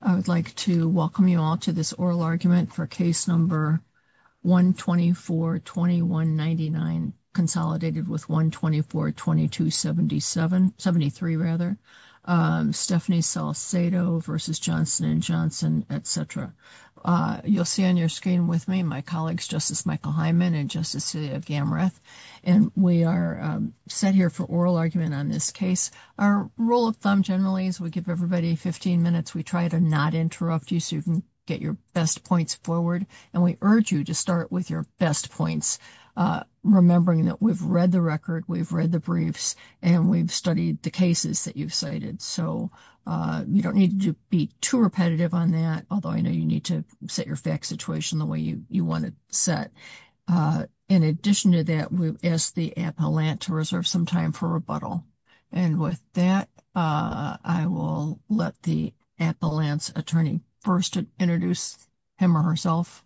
I would like to welcome you all to this oral argument for case number 124-2199, consolidated with 124-2273, Stephanie Salcedo v. Johnson & Johnson, etc. You'll see on your screen with me my colleagues, Justice Michael Hyman and Justice Sylvia Gamreth, and we are set here for oral argument on this case. Our rule of thumb generally is we give everybody 15 minutes. We try to not interrupt you so you can get your best points forward, and we urge you to start with your best points, remembering that we've read the record, we've read the briefs, and we've studied the cases that you've cited. So you don't need to be too repetitive on that, although I know you need to set your fact situation the way you want it set. In addition to that, we've asked the appellant to reserve some time for rebuttal. And with that, I will let the appellant's attorney first introduce him or herself.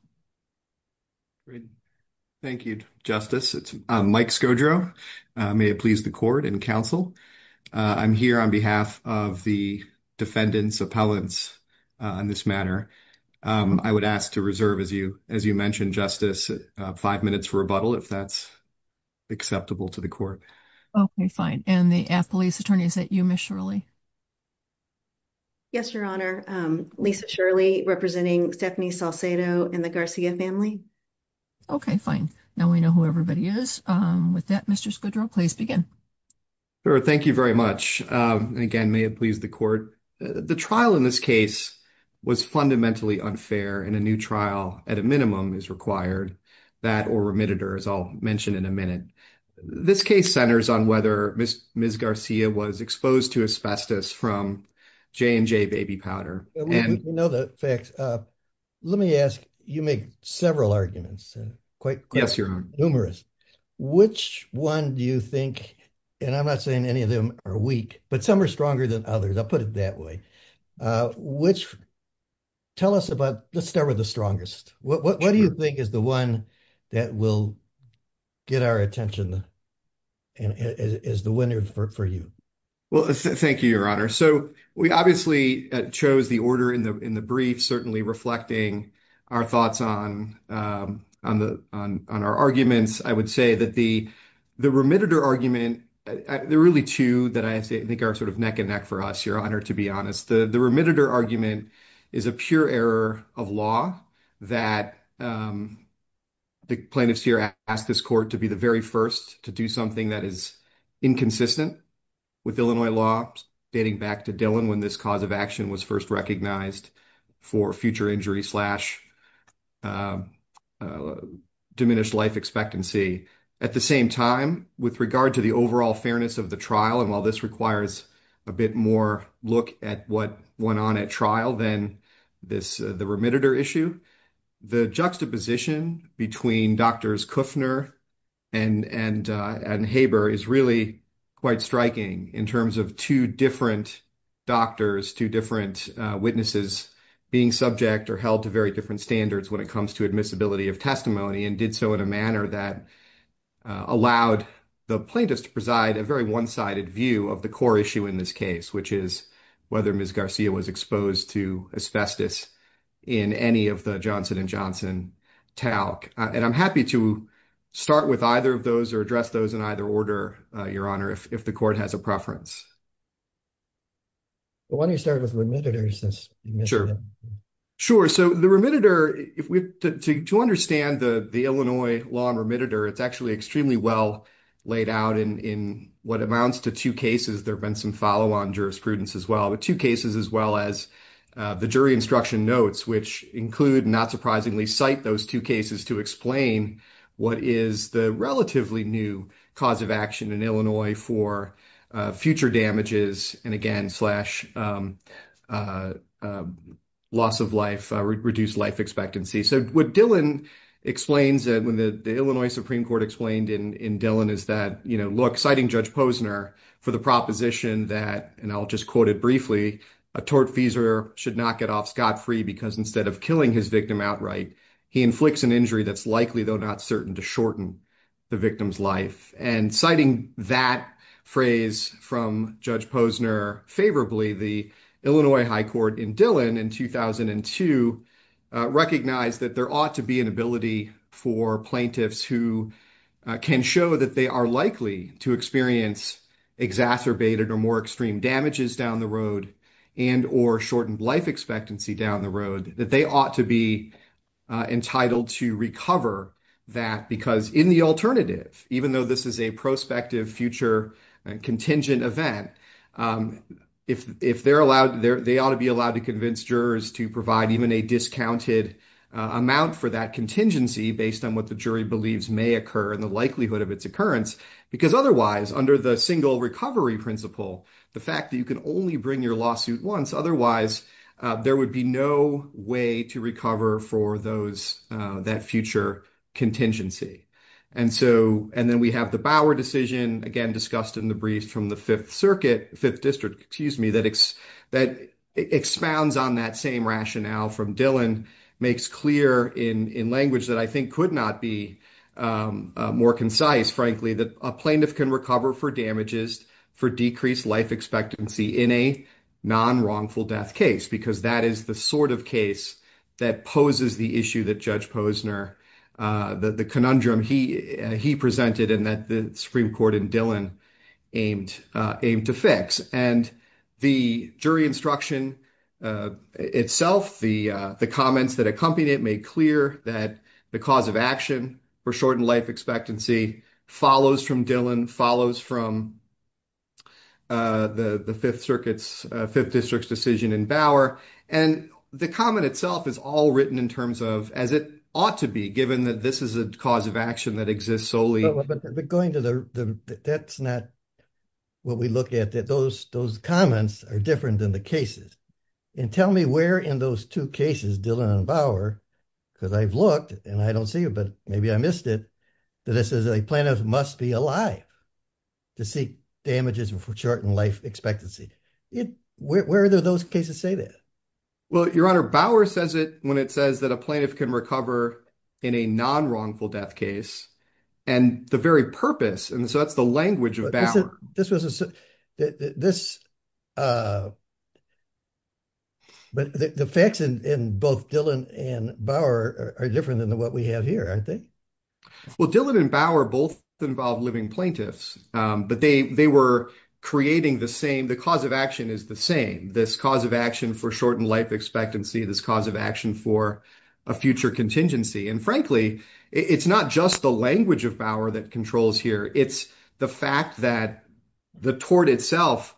Great. Thank you, Justice. It's Mike Skodro. May it please the court and counsel. I'm here on behalf of the defendant's appellants on this matter. I would ask to reserve, as you mentioned, five minutes for rebuttal, if that's acceptable to the court. Okay, fine. And the appellant's attorney, is that you, Ms. Shirley? Yes, Your Honor. Lisa Shirley, representing Stephanie Salcedo and the Garcia family. Okay, fine. Now we know who everybody is. With that, Mr. Skodro, please begin. Sure. Thank you very much. And again, may it please the court. The trial in this was fundamentally unfair and a new trial at a minimum is required. That or remitted, as I'll mention in a minute. This case centers on whether Ms. Garcia was exposed to asbestos from J&J baby powder. We know the facts. Let me ask, you make several arguments. Yes, Your Honor. Numerous. Which one do you think, and I'm not saying any of them are weak, but some are stronger than others. I'll put it that way. Which, tell us about, let's start with the strongest. What do you think is the one that will get our attention and is the winner for you? Well, thank you, Your Honor. So we obviously chose the order in the brief, certainly reflecting our thoughts on our arguments. I would say that the remitted argument, there are really two that I think are neck and neck for us, Your Honor, to be honest. The remitted argument is a pure error of law that the plaintiffs here ask this court to be the very first to do something that is inconsistent with Illinois law, dating back to Dillon, when this cause of action was first recognized for future injury slash diminished life expectancy. At the same time, with regard to the overall fairness of the trial, and while this requires a bit more look at what went on at trial than the remitted issue, the juxtaposition between Drs. Kuffner and Haber is really quite striking in terms of two different doctors, two different witnesses being subject or held to very different standards when it comes to admissibility of testimony and did so in a preside a very one-sided view of the core issue in this case, which is whether Ms. Garcia was exposed to asbestos in any of the Johnson and Johnson talk. And I'm happy to start with either of those or address those in either order, Your Honor, if the court has a preference. Well, why don't you start with remitted? Sure. Sure. So the remitted, to understand the Illinois law and remitted, it's actually extremely well laid out in what amounts to two cases. There've been some follow on jurisprudence as well, but two cases as well as the jury instruction notes, which include not surprisingly cite those two cases to explain what is the relatively new cause of action in Illinois for future damages and again, slash loss of life, reduced life expectancy. So what Dylan explains that when the Illinois Supreme Court explained in Dylan is that, you know, look, citing Judge Posner for the proposition that, and I'll just quote it briefly, a tortfeasor should not get off scot-free because instead of killing his victim outright, he inflicts an injury that's likely though not certain to shorten the victim's life. And citing that phrase from Judge Posner favorably, the Illinois High Court in Dylan in 2002, recognized that there ought to be an ability for plaintiffs who can show that they are likely to experience exacerbated or more extreme damages down the road and or shortened life expectancy down the road, that they ought to be entitled to recover that because in the alternative, even though this is a prospective future contingent event, if they're allowed, they ought to be allowed to convince jurors to provide even a discounted amount for that contingency based on what the jury believes may occur and the likelihood of its occurrence, because otherwise under the single recovery principle, the fact that you can only bring your lawsuit once, otherwise there would be no way to recover for that future contingency. And so, and then we have the Bower decision, again, discussed in the brief from the Fifth Circuit, Fifth District, excuse me, that expounds on that same rationale from Dylan, makes clear in language that I think could not be more concise, frankly, that a plaintiff can recover for damages for decreased life expectancy in a non-wrongful death case, because that is the sort of case that poses the issue that Judge Posner, the conundrum he presented and that the Supreme Court and Dylan aimed to fix. And the jury instruction itself, the comments that accompany it made clear that the cause of action for shortened life expectancy follows from Dylan, follows from the Fifth Circuit's, Fifth District's decision in Bower. And the comment itself is all written in terms of, as it ought to be, given that this is a cause of action that exists solely. But going to the, that's not what we look at, that those comments are different than the cases. And tell me where in those two cases, Dylan and Bower, because I've looked and I don't see it, but maybe I missed it, that it says that a plaintiff must be alive to seek damages for shortened life expectancy. Where are those cases say that? Well, Your Honor, Bower says it when it says that a plaintiff can recover in a non-wrongful death case and the very purpose. And so that's the language of Bower. This was a, this, but the facts in both Dylan and Bower are different than what we have here, aren't they? Well, Dylan and Bower both involve living plaintiffs, but they were creating the same, the cause of action is the same. This cause of action for shortened life expectancy, this cause of action for a future contingency. And frankly, it's not just the language of Bower that controls here. It's the fact that the tort itself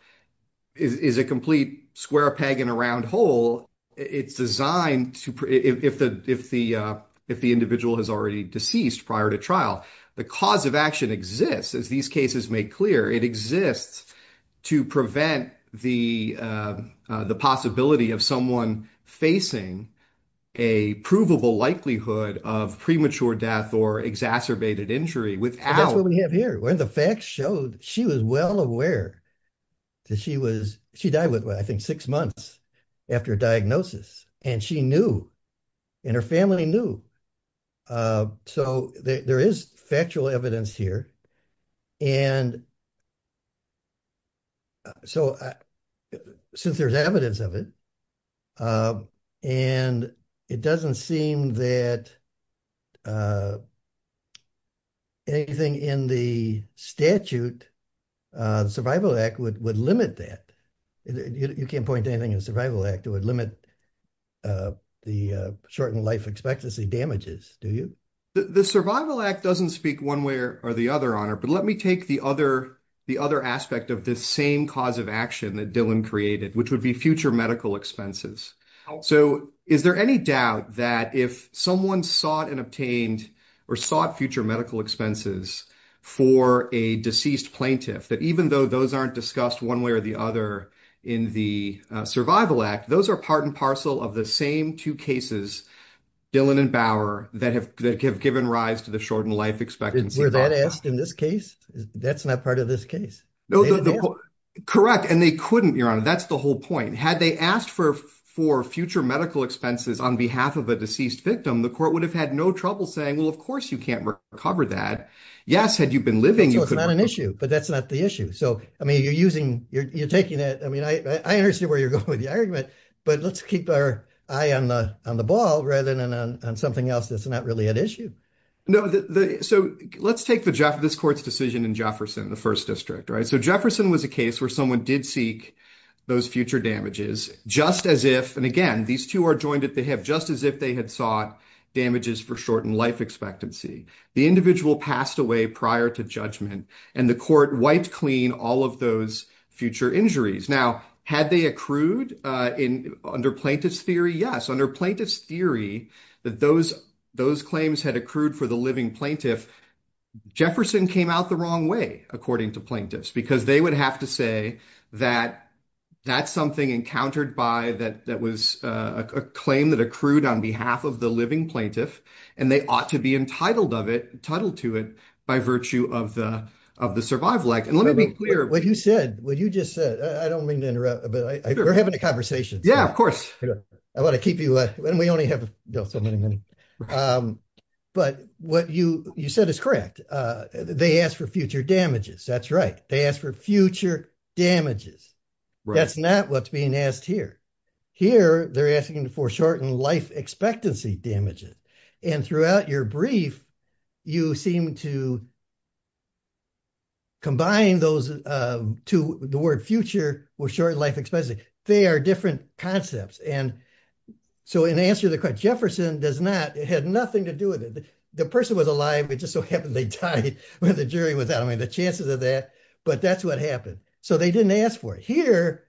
is a complete square peg in a round hole. It's designed to, if the individual has already deceased prior to trial, the cause of action exists. As these cases make clear, it exists to prevent the possibility of facing a provable likelihood of premature death or exacerbated injury without- That's what we have here. When the facts showed she was well aware that she was, she died with, I think, six months after diagnosis and she knew and her family knew. So there is factual evidence here. And so since there's evidence of it, and it doesn't seem that anything in the statute, the Survival Act would limit that. You can't point to anything in the Survival Act that would limit the shortened life expectancy damages, do you? The Survival Act doesn't speak one way or the other, Honor, but let me take the other aspect of this same cause of action that Dylan created, which would be future medical expenses. So is there any doubt that if someone sought and obtained or sought future medical expenses for a deceased plaintiff, that even though those aren't discussed one way or the other in the Survival Act, those are part and parcel of the same two cases, Dylan and Bauer, that have given rise to the shortened life expectancy. Were that asked in this case? That's not part of this case. No, correct. And they couldn't, Your Honor, that's the whole point. Had they asked for future medical expenses on behalf of a deceased victim, the court would have had no trouble saying, well, of course you can't recover that. Yes, had you been living, you could. It's not an issue, but that's not the issue. So, I mean, you're using, you're taking it, I mean, I understand where you're going with the argument, but let's keep our eye on the ball rather than on something else that's not really an issue. No, so let's take this court's decision in Jefferson, the first district, right? So, Jefferson was a case where someone did seek those future damages just as if, and again, these two are joined at the hip, just as if they had sought damages for shortened life expectancy. The individual passed away prior to judgment and the court wiped clean all of those future injuries. Now, had they accrued under plaintiff's theory? Yes. Under plaintiff's theory, that those claims had accrued for the living plaintiff, Jefferson came out the wrong way, according to plaintiffs, because they would have to say that that's something encountered by that was a claim that accrued on behalf of the living plaintiff and they ought to be entitled to it by virtue of the survival act. And let me be clear. What you said, what you just said, I don't mean to interrupt, but we're having a conversation. Yeah, of course. I want to keep you, and we only have so many minutes, but what you said is correct. They asked for future damages. That's right. They asked for future damages. That's not what's being asked here. Here, they're asking for shortened life expectancy damages. And throughout your brief, you seem to combine those two, the word future with shortened life expectancy. They are different concepts. And so in answer to the question, Jefferson does not, it had nothing to do with it. The person was alive. It just so happened they died when the jury was out. I mean, the chances of that, but that's what happened. So they didn't ask for it. Here,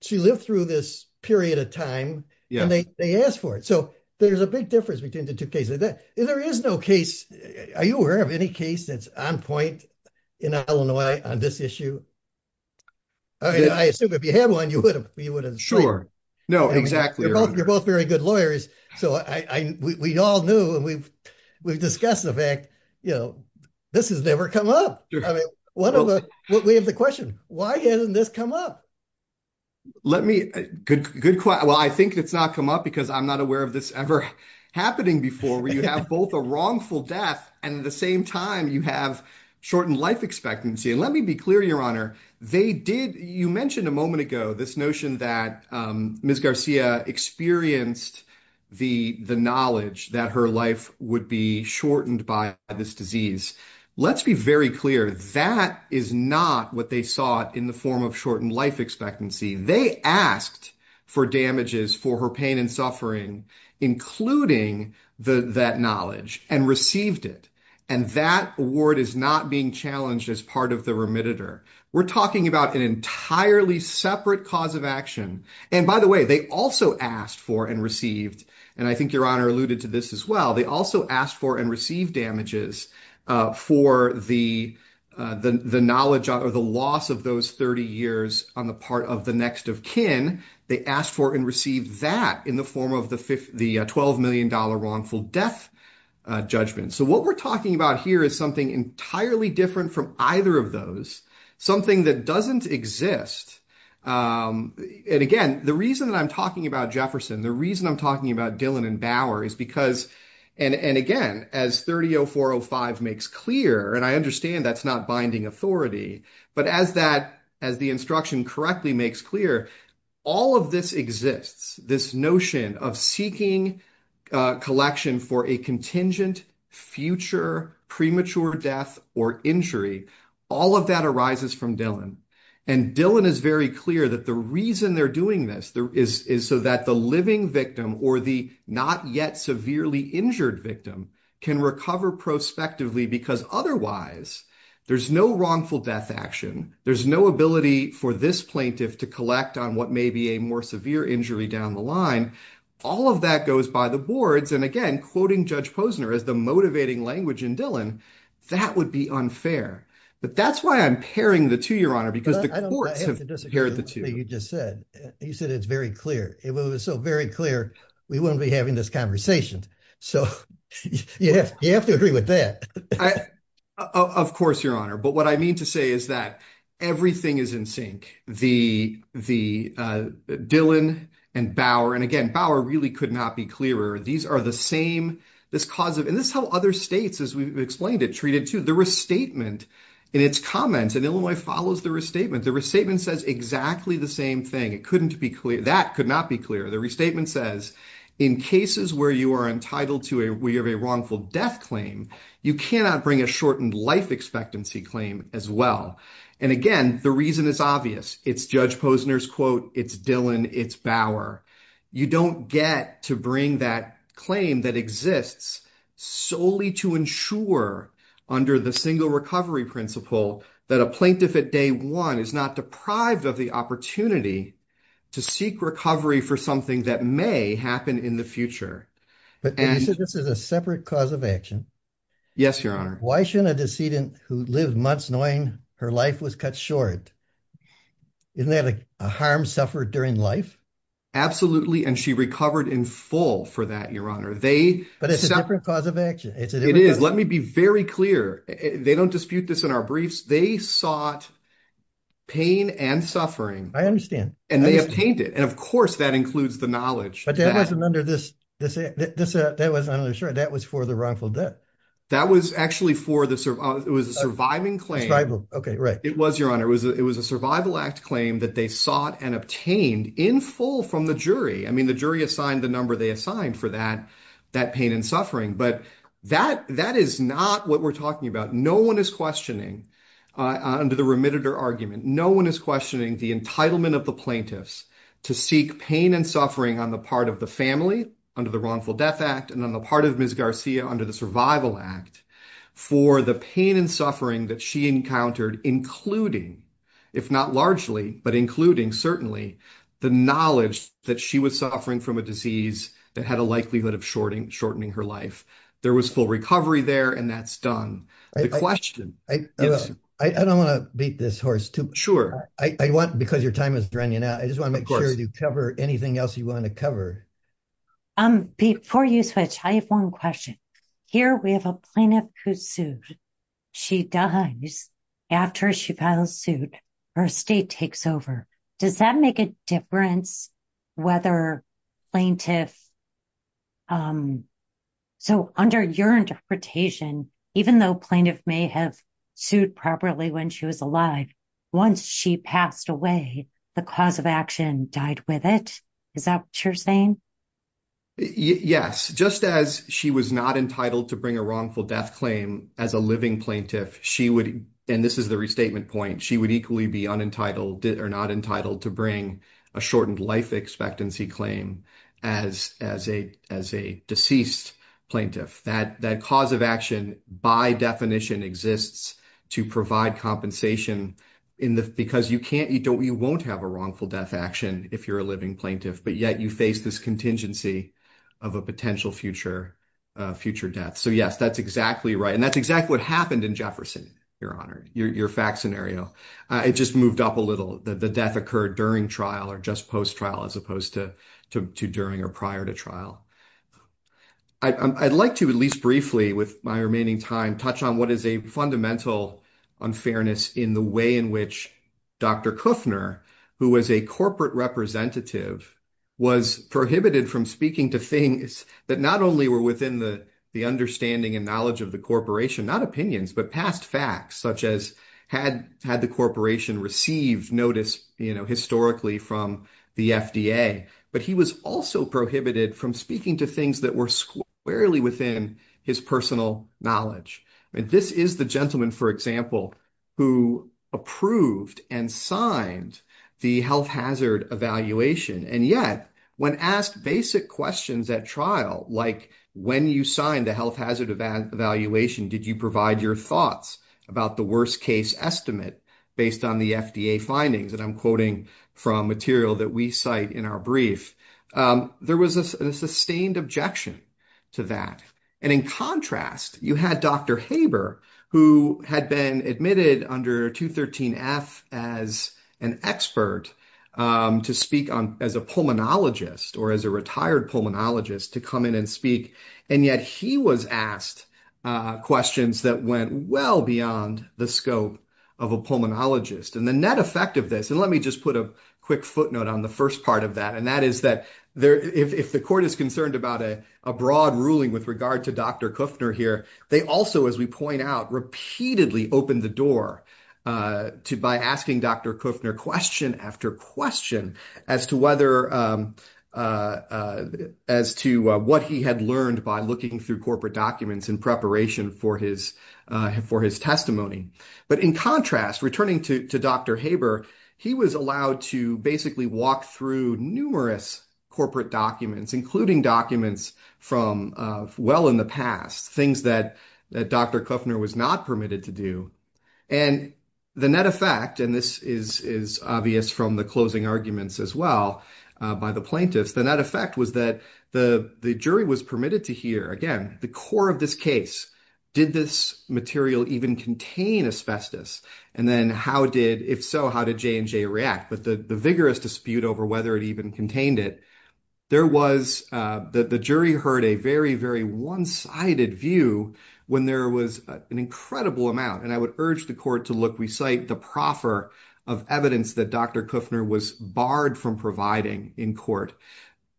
she lived through this period of time and they asked for it. So there's a big difference between the two cases. There is no case. Are you aware of any case that's on point in Illinois on this issue? I mean, I assume if you had one, you would have. Sure. No, exactly. You're both very good lawyers. So we all knew and we've discussed the fact, you know, this has never come up. I mean, we have the question, why hasn't this come up? Let me, good question. Well, I think it's not come up because I'm not aware of this ever happening before where you have both a wrongful death and at the same time you have shortened life expectancy. And let me be clear, Your Honor, they did, you mentioned a moment ago, this notion that Ms. Garcia experienced the knowledge that her life would be shortened by this disease. Let's be very clear. That is not what they sought in the form of shortened life expectancy. They asked for damages for her pain and suffering, including that knowledge, and received it. And that award is not being challenged as part of the remitter. We're talking about an entirely separate cause of action. And by the way, they also asked for and received, and I think Your Honor alluded to this as well, they also asked for and received damages for the knowledge or the loss of those 30 years on the part of the next of kin. They asked for and received that in the form of the $12 million wrongful death judgment. So what we're talking about here is something entirely different from either of those, something that doesn't exist. And again, the reason that I'm talking about Jefferson, the reason I'm talking about Bauer is because, and again, as 300405 makes clear, and I understand that's not binding authority, but as the instruction correctly makes clear, all of this exists, this notion of seeking collection for a contingent future premature death or injury, all of that arises from Dillon. And Dillon is very clear that the reason they're doing this is so that the living victim or the not yet severely injured victim can recover prospectively, because otherwise, there's no wrongful death action. There's no ability for this plaintiff to collect on what may be a more severe injury down the line. All of that goes by the boards. And again, quoting Judge Posner as the motivating language in Dillon, that would be unfair. But that's why I'm pairing the two, Your Honor, because the courts have paired the two. You said it's very clear. If it was so very clear, we wouldn't be having this conversation. So you have to agree with that. Of course, Your Honor. But what I mean to say is that everything is in sync. Dillon and Bauer, and again, Bauer really could not be clearer. These are the same, this cause of, and this is how other states, as we've explained it, treat it too. The restatement in its comments, and Illinois follows the restatement, the restatement says exactly the same thing. It couldn't be clear. That could not be clear. The restatement says, in cases where you are entitled to a wrongful death claim, you cannot bring a shortened life expectancy claim as well. And again, the reason is obvious. It's Judge Posner's quote. It's Dillon. It's Bauer. You don't get to bring that claim that exists solely to ensure under the single principle that a plaintiff at day one is not deprived of the opportunity to seek recovery for something that may happen in the future. But you said this is a separate cause of action. Yes, Your Honor. Why shouldn't a decedent who lived months knowing her life was cut short, isn't that a harm suffered during life? Absolutely. And she recovered in full for that, Your Honor. But it's a different cause of action. It is. Let me be very clear. They don't dispute this in our briefs. They sought pain and suffering. I understand. And they obtained it. And of course, that includes the knowledge. But that wasn't under this, that was for the wrongful death. That was actually for the, it was a surviving claim. Survival, okay, right. It was, Your Honor. It was a survival act claim that they sought and obtained in full from the jury. I mean, the jury assigned the number for that pain and suffering. But that is not what we're talking about. No one is questioning under the remitted or argument. No one is questioning the entitlement of the plaintiffs to seek pain and suffering on the part of the family under the wrongful death act and on the part of Ms. Garcia under the survival act for the pain and suffering that she encountered, including, if not largely, but including certainly the knowledge that she was suffering from a disease that had a likelihood of shorting, shortening her life. There was full recovery there and that's done. The question. I don't want to beat this horse too. I want, because your time is running out, I just want to make sure you cover anything else you want to cover. Before you switch, I have one question. Here we have a plaintiff who sued. She dies after she filed a suit. Her estate takes over. Does that make a difference whether plaintiff. So under your interpretation, even though plaintiff may have sued properly when she was alive, once she passed away, the cause of action died with it. Is that what you're saying? Yes. Just as she was not entitled to bring a wrongful death claim as a living plaintiff, she would. And this is the restatement point. She would equally be unentitled or not entitled to bring a shortened life expectancy claim as a deceased plaintiff. That cause of action by definition exists to provide compensation because you won't have a wrongful death action if you're a living plaintiff, but yet you face this contingency of a potential future death. So yes, that's exactly right. And that's exactly what happened in Jefferson, Your Honor, your fact scenario. It just moved up a little. The death occurred during trial or just post-trial as opposed to during or prior to trial. I'd like to, at least briefly with my remaining time, touch on what is a fundamental unfairness in the way in which Dr. Kuffner, who was a corporate representative, was prohibited from speaking to things that not only were within the understanding and knowledge of the corporation, not opinions, but past facts, such as had the corporation received notice historically from the FDA, but he was also prohibited from speaking to things that were squarely within his personal knowledge. This is the gentleman, for example, who approved and signed the health hazard evaluation. And yet when asked basic questions at trial, like when you signed the health hazard evaluation, did you provide your thoughts about the worst case estimate based on the FDA findings? And I'm quoting from material that we cite in our brief. There was a sustained objection to that. And in contrast, you had Dr. Haber, who had been admitted under 213F as an expert to speak as a pulmonologist or as a retired pulmonologist to come in and speak. And yet he was asked questions that went well beyond the scope of a pulmonologist. And the net effect of this, and let me just put a quick footnote on the first part of that, and that is that if the court is concerned about a broad ruling with regard to Dr. Kuffner here, they also, as we point out, repeatedly opened the door by asking Dr. Kuffner question after question as to whether, as to what he had learned by looking through corporate documents in preparation for his testimony. But in contrast, returning to Dr. Haber, he was allowed to basically walk through numerous corporate documents, including documents from well in the past, things that Dr. Kuffner was not permitted to do. And the net effect, and this is obvious from the arguments as well by the plaintiffs, the net effect was that the jury was permitted to hear, again, the core of this case. Did this material even contain asbestos? And then how did, if so, how did J&J react? But the vigorous dispute over whether it even contained it, the jury heard a very, very one-sided view when there was an incredible amount. And I would urge the court to look, recite the proffer of evidence that Dr. Kuffner was barred from providing in court.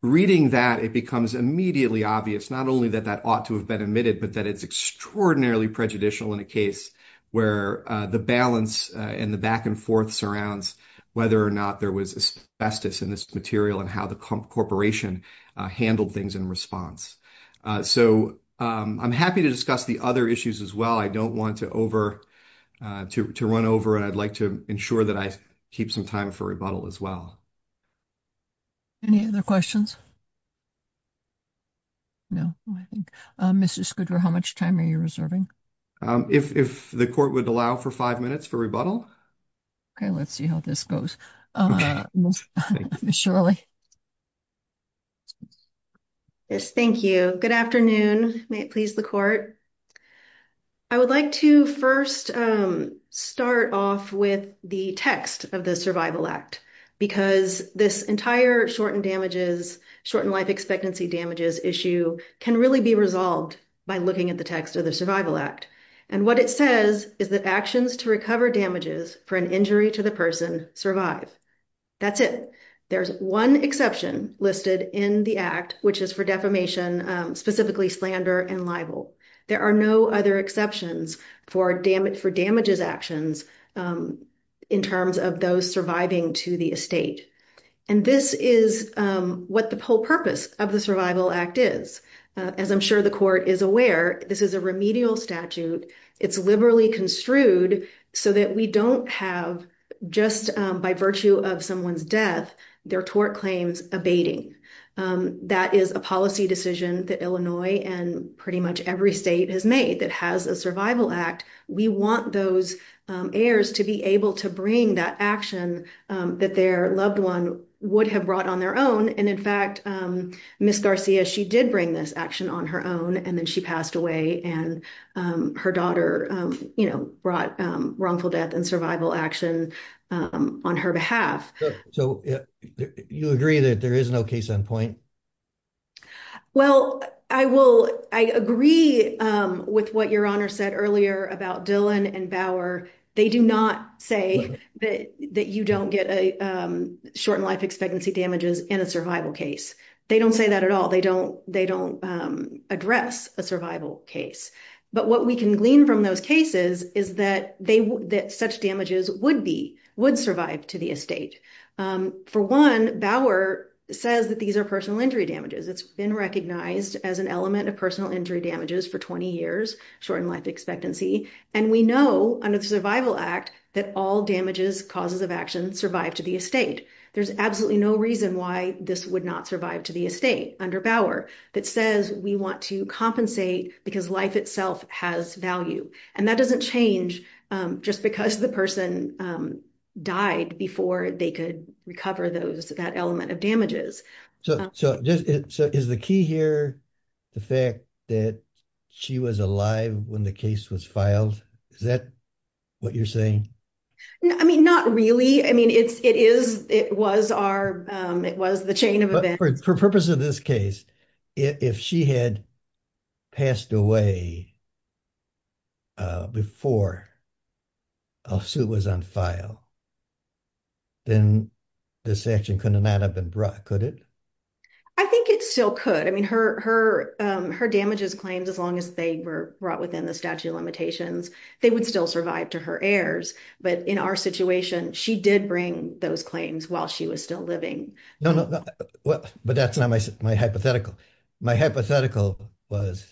Reading that, it becomes immediately obvious, not only that that ought to have been omitted, but that it's extraordinarily prejudicial in a case where the balance and the back and forth surrounds whether or not there was asbestos in this material and how the corporation handled things in response. So, I'm happy to discuss the other issues as well. I don't want to run over and I'd like to ensure that I keep some time for rebuttal as well. Any other questions? No, I think. Mrs. Skudra, how much time are you reserving? If the court would allow for five minutes for rebuttal. Okay, let's see how this goes. Ms. Shirley. Yes, thank you. Good afternoon. May it please the court. I would like to first start off with the text of the Survival Act because this entire shortened life expectancy damages issue can really be resolved by looking at the text of the Survival Act. And what it says is that actions to listed in the act, which is for defamation, specifically slander and libel. There are no other exceptions for damages actions in terms of those surviving to the estate. And this is what the whole purpose of the Survival Act is. As I'm sure the court is aware, this is a remedial statute. It's liberally construed so that we don't have just by virtue of someone's death, their tort claims abating. That is a policy decision that Illinois and pretty much every state has made that has a Survival Act. We want those heirs to be able to bring that action that their loved one would have brought on their own. And in fact, Ms. Garcia, she did bring this action on her own and then she passed away and her daughter, you know, brought wrongful death and survival action on her behalf. So you agree that there is no case on point? Well, I will. I agree with what your honor said earlier about Dylan and Bauer. They do not say that you don't get a shortened life expectancy damages in a survival case. They don't say that at all. They don't they don't address a survival case. But what we can glean from those cases is that they that such damages would be would survive to the estate. For one, Bauer says that these are personal injury damages. It's been recognized as an element of personal injury damages for 20 years, shortened life expectancy. And we know under the Survival Act that all damages, causes of action survive to the estate. There's absolutely no reason why this would not survive to the estate under Bauer that says we want to compensate because life itself has value. And that doesn't change just because the person died before they could recover those that element of damages. So is the key here the fact that she was alive when the case was filed? Is that what you're saying? I mean, not really. I mean, it's it is it was our it was the for purpose of this case, if she had passed away before a suit was on file, then this action could not have been brought, could it? I think it still could. I mean, her damages claims, as long as they were brought within the statute of limitations, they would still survive to her heirs. But in our situation, she did bring those claims while she was still living. No, no. But that's not my my hypothetical. My hypothetical was.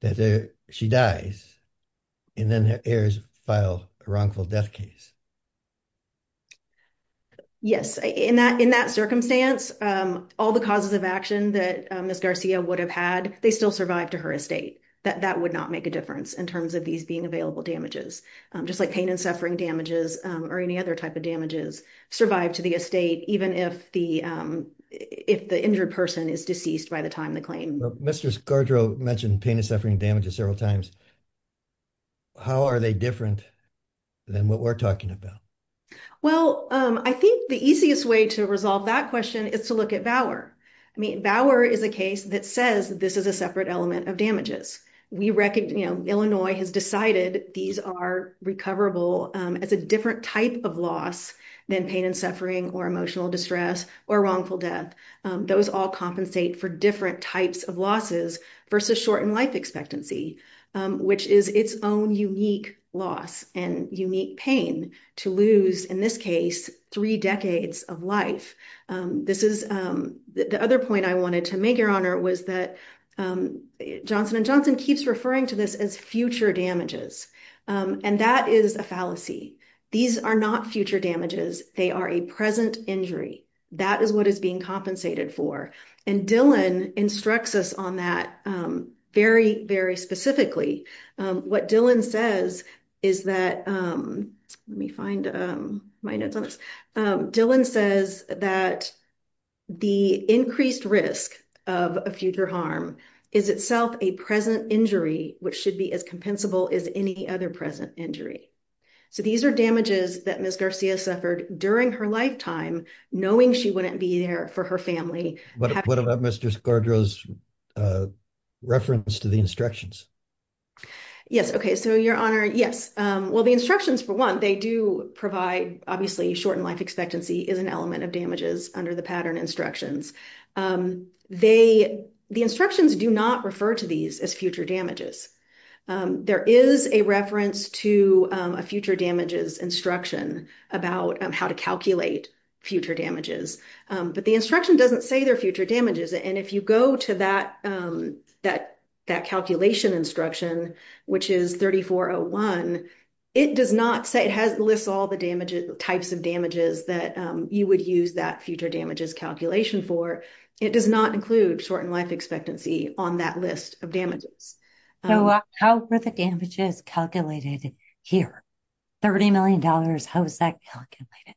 That she dies and then her heirs file a wrongful death case. Yes, in that in that circumstance, all the causes of action that Ms. Garcia would have had, they still survive to her estate, that that would not make a difference in terms of these being available damages, just like pain and suffering damages or any other type of damages survive to the estate, even if the if the injured person is deceased by the time the claim Mr. Scarborough mentioned pain and suffering damages several times. How are they different than what we're talking about? Well, I think the easiest way to resolve that question is to look at Bauer. I mean, Bauer is a case that says that this is a separate element of damages. We reckon Illinois has decided these are recoverable as a different type of loss than pain and suffering or emotional distress or wrongful death. Those all compensate for different types of losses versus shortened life expectancy, which is its own unique loss and unique pain to lose, in this case, three decades of life. This is the other point I wanted to make, Your Honor, was that Johnson and Johnson keeps referring to this as future damages, and that is a fallacy. These are not future damages. They are a present injury. That is what is being compensated for. And Dylan instructs us on that very, very specifically. What Dylan says is that, let me find my notes on this. Dylan says that the increased risk of a future harm is itself a present injury, which should be as compensable as any other present injury. So these are damages that Ms. Garcia suffered during her lifetime, knowing she wouldn't be there for her family. What about Mr. Scardro's reference to the instructions? Yes. Okay. So, Your Honor, yes. Well, the instructions, for one, they do provide, obviously, shortened life expectancy is an element of damages under the pattern instructions. The instructions do not refer to these as future damages. There is a reference to a future damages instruction about how to calculate future damages, but the instruction doesn't say they're future damages. And if you go to that calculation instruction, which is 3401, it does not say, it lists all the types of damages that you would use that future damages calculation for. It does not include shortened life expectancy on that list of damages. How are the damages calculated here? $30 million, how is that calculated?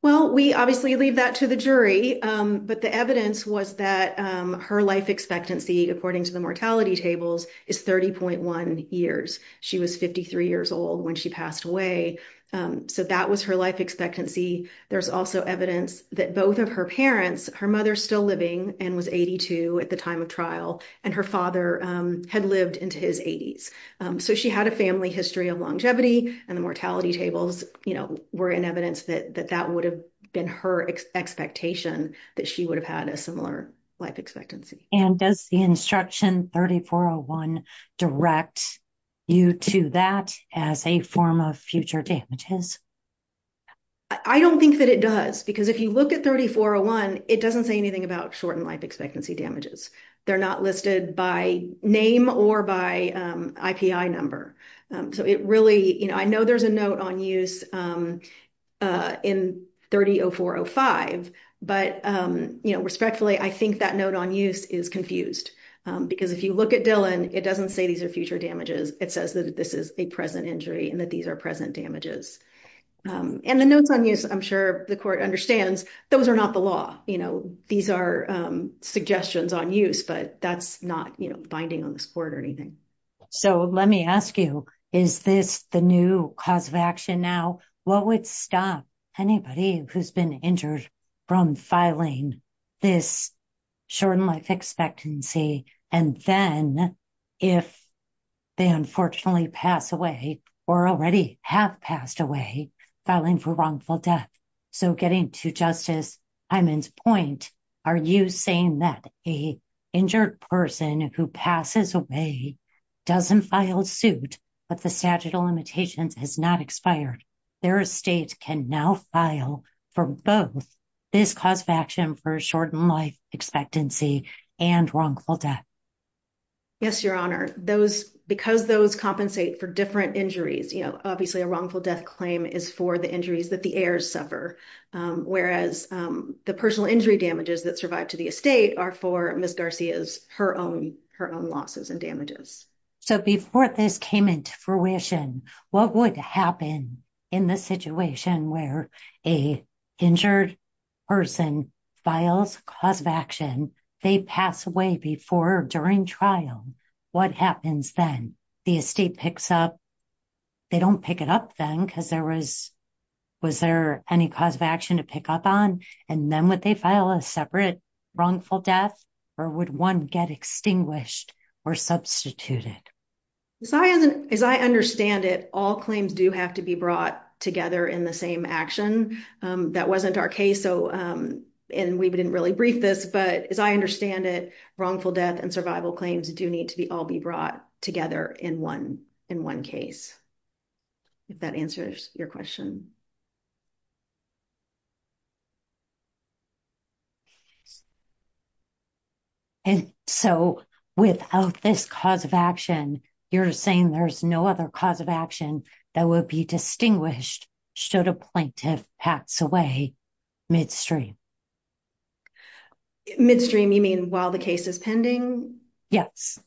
Well, we obviously leave that to the jury, but the evidence was that her life expectancy, according to the mortality tables, is 30.1 years. She was 53 years old when she passed away. So, that was her life expectancy. There's also evidence that both of her parents, her mother still living and was 82 at the time of trial, and her father had lived into his 80s. So, she had a family history of longevity, and the mortality tables were in evidence that that would have been her expectation that she would have had a similar life expectancy. And does the instruction 3401 direct you to that as a form of future damages? I don't think that it does, because if you look at 3401, it doesn't say anything about shortened life expectancy damages. They're not listed by name or by IPI number. So, I know there's a note on use in 30.0405, but respectfully, I think that note on use is confused. Because if you look at Dillon, it doesn't say these are future damages. It says that this is a present injury and that these are present damages. And the notes on use, I'm sure the court understands, those are not the law. These are suggestions on use, but that's not binding on this court or anything. So, let me ask you, is this the new cause of action now? What would stop anybody who's been injured from filing this shortened life expectancy, and then if they unfortunately pass away, or already have passed away, filing for wrongful death? So, getting to Justice Hyman's point, are you saying that a injured person who passes away doesn't file suit, but the statute of limitations has not expired? Their estate can now file for both this cause of action for shortened life expectancy and wrongful death? Yes, Your Honor. Because those compensate for different injuries, obviously a wrongful death claim is for the injuries that the heirs suffer. Whereas the personal injury damages that survive to the estate are for Ms. Garcia's her own losses and damages. So, before this came into fruition, what would happen in the situation where a injured person files cause of action, they pass away before or during trial, what happens then? The estate picks up, they don't pick it up then, because there was, was there any cause of action to pick up on? And then would they file a separate wrongful death, or would one get extinguished or substituted? As I understand it, all claims do have to be brought together in the same action. That wasn't our case, and we didn't really brief this, but as I understand it, wrongful death and survival claims do need to be all be brought together in one case. If that answers your question. And so, without this cause of action, you're saying there's no other cause of action that would be distinguished should a plaintiff pass away midstream? Midstream, you mean while the case is pending? Yes.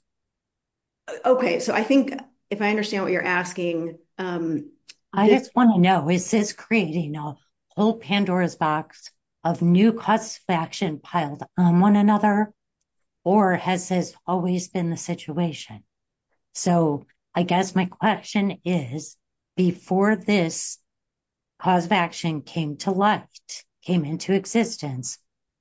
Okay, so I think if I understand what you're asking, I just want to know, is this creating a whole Pandora's box of new cause of action piled on one another, or has this always been the situation? So, I guess my question is, before this cause of action came to life, came into existence,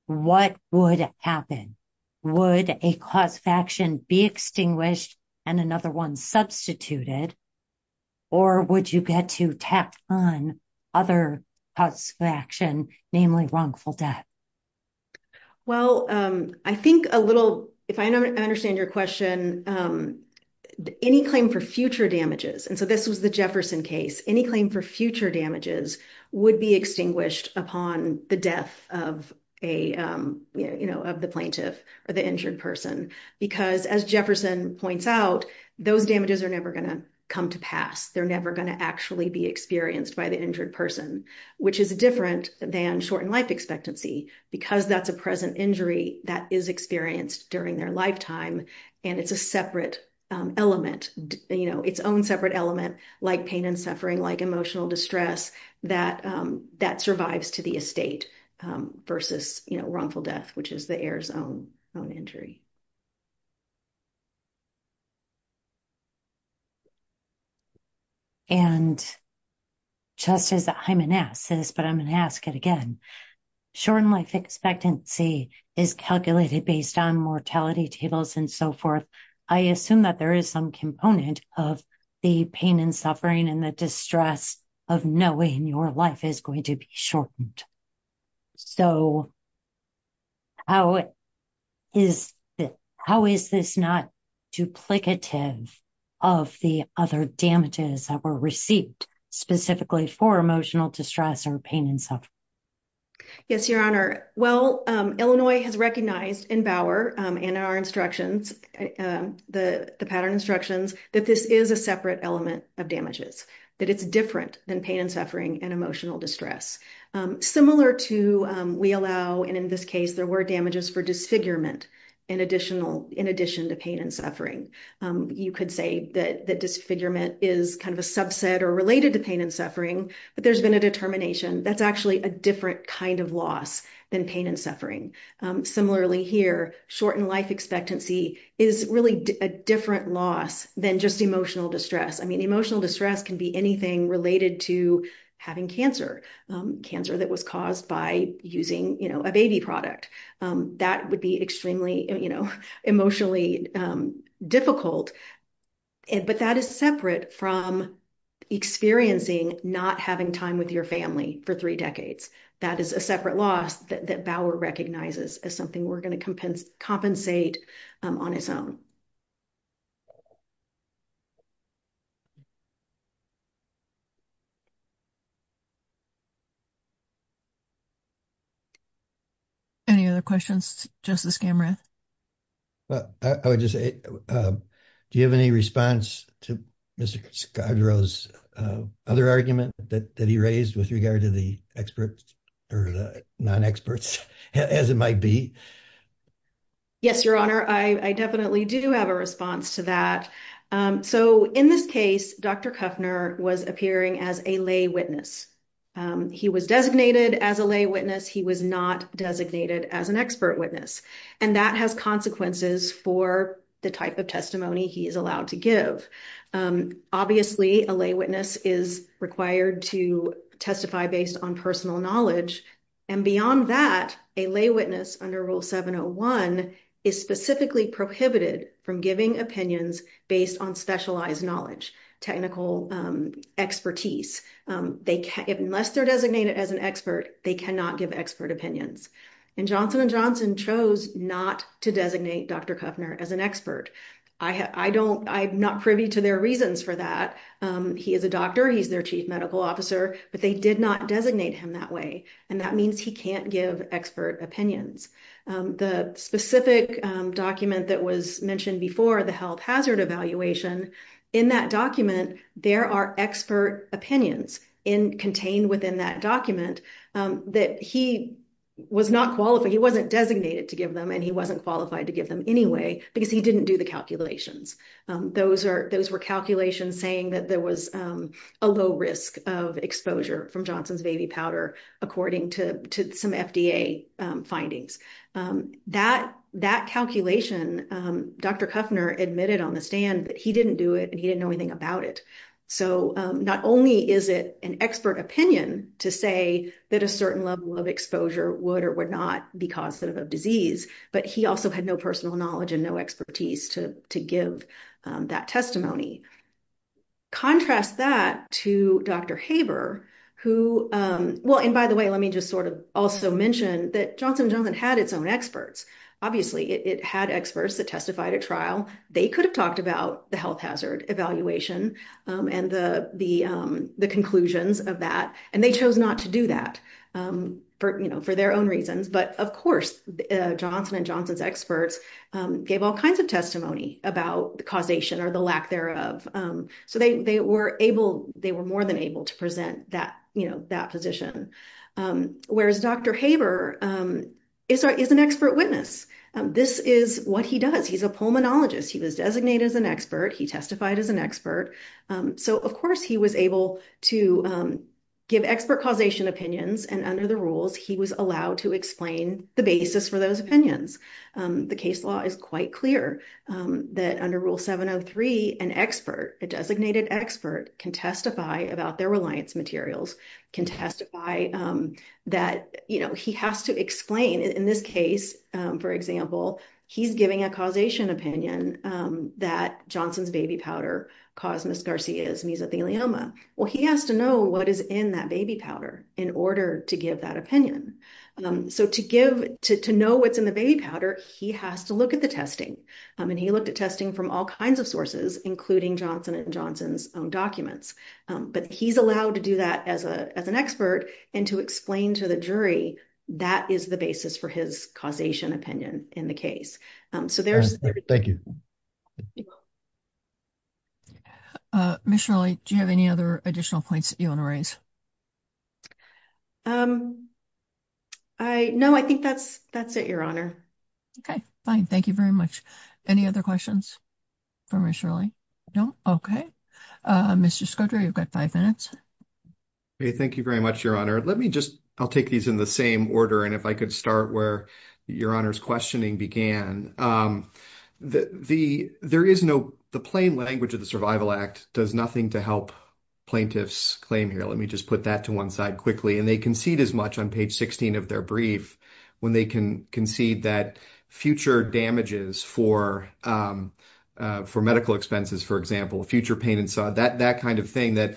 what would happen? Would a cause of action be extinguished and another one substituted, or would you get to tap on other cause of action, namely wrongful death? Well, I think a little, if I understand your question, any claim for future damages, and so this was the Jefferson case, any claim for future damages would be extinguished upon the death of the plaintiff or the injured person, because as Jefferson points out, those damages are never going to come to pass. They're never going to actually be experienced by the injured person, which is different than shortened life expectancy, because that's a present injury that is experienced during their lifetime, and it's a separate element, you know, its own separate element, like pain and suffering, like emotional distress, that survives to the estate versus, you know, wrongful death, which is the heir's own injury. And just as I'm going to ask this, but I'm going to ask it again, shortened life expectancy is calculated based on mortality tables and so forth. I assume that there is some component of the pain and suffering and the distress of knowing your life is going to be shortened. So, how is this not duplicative of the other damages that were received, specifically for emotional distress or pain and suffering? Yes, Your Honor. Well, Illinois has recognized in Bauer and in our instructions, the pattern instructions, that this is a separate element of damages, that it's different than pain and suffering and emotional distress. Similar to we allow, and in this case, there were damages for disfigurement in addition to pain and suffering. You could say that disfigurement is kind of a pain and suffering, but there's been a determination that's actually a different kind of loss than pain and suffering. Similarly here, shortened life expectancy is really a different loss than just emotional distress. I mean, emotional distress can be anything related to having cancer, cancer that was caused by using, you know, a baby product. That would be extremely, you know, emotionally difficult, but that is separate from experiencing not having time with your family for three decades. That is a separate loss that Bauer recognizes as something we're going to compensate on its own. Any other questions, Justice Gamreth? Well, I would just say, do you have any response to Mr. Skagro's other argument that he raised with regard to the experts or the non-experts, as it might be? Yes, Your Honor. I definitely do have a response to that. So, in this case, Dr. Kuffner was appearing as a lay witness. He was designated as a lay witness. He was not designated as an for the type of testimony he is allowed to give. Obviously, a lay witness is required to testify based on personal knowledge. And beyond that, a lay witness under Rule 701 is specifically prohibited from giving opinions based on specialized knowledge, technical expertise. Unless they're designated as an expert, they cannot give expert opinions. And Johnson & Johnson chose not to designate Dr. Kuffner as an expert. I'm not privy to their reasons for that. He is a doctor. He's their chief medical officer. But they did not designate him that way. And that means he can't give expert opinions. The specific document that was mentioned before, the health hazard evaluation, in that document, there are expert opinions contained within that document that he was not qualified. He wasn't designated to give them and he wasn't qualified to give them anyway, because he didn't do the calculations. Those were calculations saying that there was a low risk of exposure from Johnson's baby powder, according to some FDA findings. That calculation, Dr. Kuffner admitted on the stand that he didn't do it and he didn't know about it. So not only is it an expert opinion to say that a certain level of exposure would or would not be causative of disease, but he also had no personal knowledge and no expertise to give that testimony. Contrast that to Dr. Haber, who, well, and by the way, let me just sort of also mention that Johnson & Johnson had its own experts. Obviously, it had experts that testified at trial. They could have talked about the health hazard evaluation and the conclusions of that. And they chose not to do that for their own reasons. But of course, Johnson & Johnson's experts gave all kinds of testimony about the causation or the lack thereof. So they were able, they were more than able to present that position. Whereas Dr. Haber is an expert witness. This is what he does. He's a pulmonologist. He was designated as an expert. He testified as an expert. So, of course, he was able to give expert causation opinions. And under the rules, he was allowed to explain the basis for those opinions. The case law is quite clear that under Rule 703, an expert, a designated expert can testify about their reliance materials, can testify that, you know, he has to explain in this case, for example, he's giving a causation opinion that Johnson's baby powder caused Ms. Garcia's mesothelioma. Well, he has to know what is in that baby powder in order to give that opinion. So to give, to know what's in the baby powder, he has to look at the testing. And he looked at testing from all kinds of sources, including Johnson & Johnson's own documents. But he's allowed to do that as an expert and to explain to the jury that is the basis for his causation opinion in the case. So there's... Thank you. Ms. Shirley, do you have any other additional points that you want to raise? I, no, I think that's it, Your Honor. Okay, fine. Thank you very much. Any other questions? Thank you very much, Your Honor. Let me just, I'll take these in the same order. And if I could start where Your Honor's questioning began. The plain language of the Survival Act does nothing to help plaintiffs claim here. Let me just put that to one side quickly. And they concede as much on page 16 of their brief when they can concede that future damages for medical expenses, for example, future pain and sod, that kind of thing, that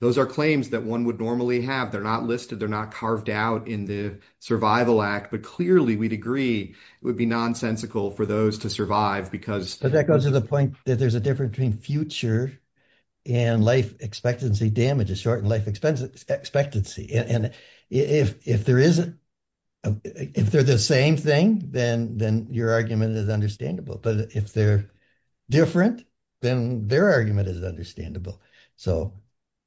those are claims that one would normally have. They're not listed. They're not carved out in the Survival Act. But clearly, we'd agree it would be nonsensical for those to survive because... But that goes to the point that there's a difference between future and life expectancy damages, shortened life expectancy. And if there is, if they're the same thing, then your argument is understandable. But if they're different, then their argument is understandable. So...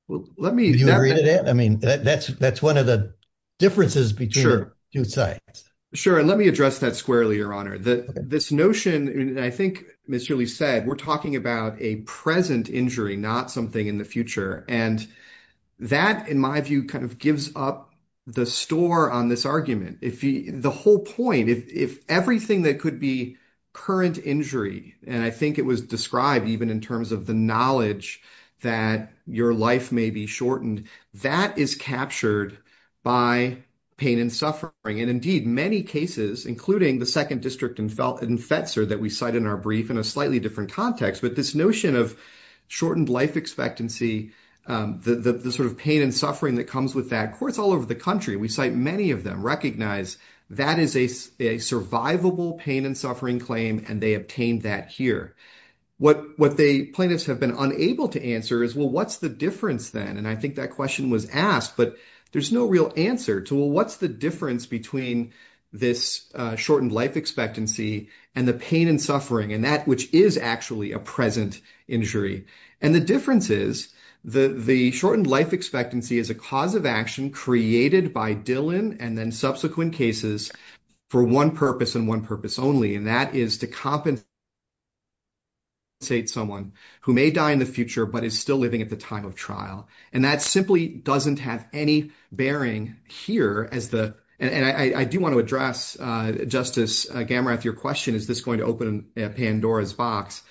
Well, let me... Do you agree to that? I mean, that's one of the differences between the two sides. Sure. And let me address that squarely, Your Honor. This notion, I think Ms. Shirley said, we're talking about a present injury, not something in the future. And that, in my view, gives up the store on this argument. The whole point, if everything that could be current injury, and I think it was described even in terms of the knowledge that your life may be shortened, that is captured by pain and suffering. And indeed, many cases, including the second district in Fetzer that we cite in our brief in a slightly different context, but this notion of shortened life expectancy, the sort of pain and suffering that comes with that, courts all over the country, we cite many of them recognize that is a survivable pain and suffering claim, and they obtained that here. What the plaintiffs have been unable to answer is, well, what's the difference then? And I think that question was asked, but there's no real answer to, well, what's the difference between this shortened life expectancy and the pain and suffering and which is actually a present injury? And the difference is the shortened life expectancy is a cause of action created by Dillon and then subsequent cases for one purpose and one purpose only, and that is to compensate someone who may die in the future, but is still living at the time of trial. And that simply doesn't have any bearing here as the, and I do want to address, Justice Gamrath, your question, is this going to open Pandora's box?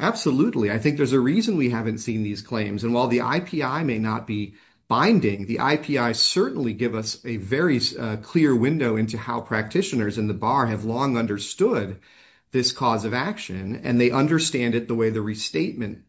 Absolutely. I think there's a reason we haven't seen these claims. And while the IPI may not be binding, the IPI certainly give us a very clear window into how practitioners in the bar have long understood this cause of action, and they understand it the way the restatement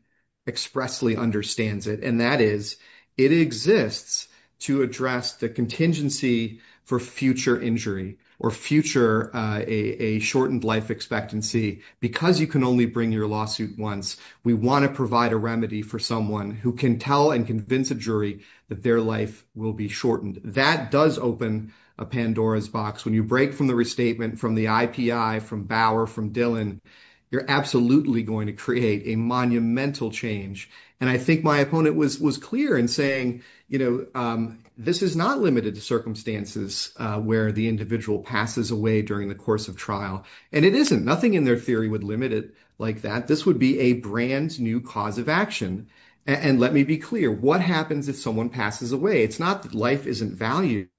expressly understands it. And that is, it exists to address the contingency for future injury or future, a shortened life expectancy, because you can only bring your lawsuit once. We want to provide a remedy for someone who can tell and convince a jury that their life will be shortened. That does open a Pandora's box. When you break from the restatement, from the IPI, from Bauer, from Dillon, you're absolutely going to a monumental change. And I think my opponent was clear in saying, this is not limited to circumstances where the individual passes away during the course of trial. And it isn't. Nothing in their theory would limit it like that. This would be a brand new cause of action. And let me be clear, what happens if someone passes away? It's not that life isn't valued.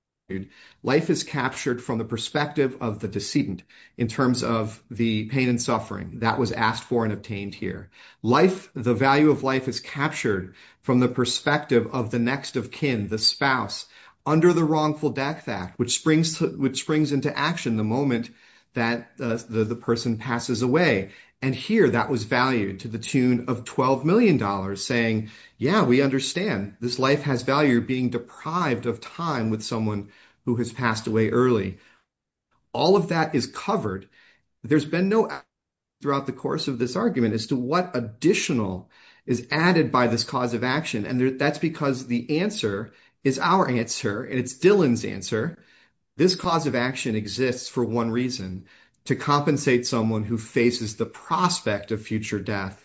Life is captured from the perspective of the decedent in terms of the pain and suffering that was asked for and obtained here. The value of life is captured from the perspective of the next of kin, the spouse, under the Wrongful Death Act, which springs into action the moment that the person passes away. And here, that was valued to the tune of $12 million, saying, yeah, we understand. This life has value. You're being deprived of time with someone who has passed away early. All of that is covered. There's been no doubt throughout the course of this argument as to what additional is added by this cause of action. And that's because the answer is our answer, and it's Dillon's answer. This cause of action exists for one reason, to compensate someone who faces the prospect of future death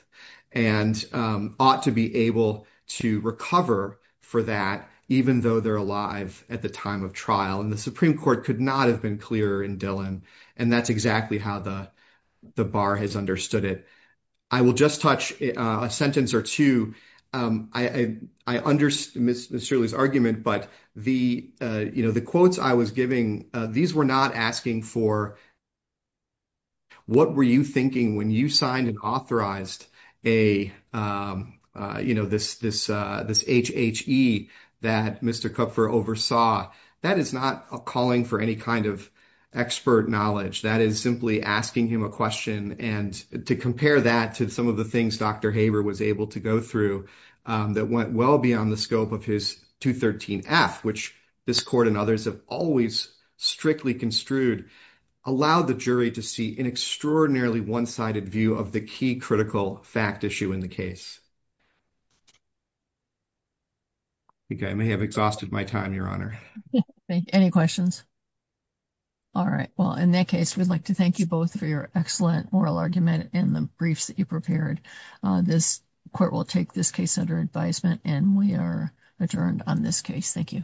and ought to be able to recover for that, even though they're alive at the time of trial. And the Supreme Court could not have been clearer in Dillon. And that's exactly how the bar has understood it. I will just touch a sentence or two. I understand Ms. Shirley's argument, but the quotes I was giving, these were not asking for what were you thinking when you signed and authorized a, you know, this HHE that Mr. Kupfer oversaw. That is not a calling for any kind of expert knowledge. That is simply asking him a question. And to compare that to some of the things Dr. Haber was able to go through that went well beyond the scope of his 213F, which this court and others have always strictly construed, allowed the jury to see an extraordinarily one-sided view of the key critical fact issue in the case. I think I may have exhausted my time, Your Honor. Thank you. Any questions? All right. Well, in that case, we'd like to thank you both for your excellent moral argument and the briefs that you prepared. This court will take this case under advisement and we are adjourned on this case. Thank you.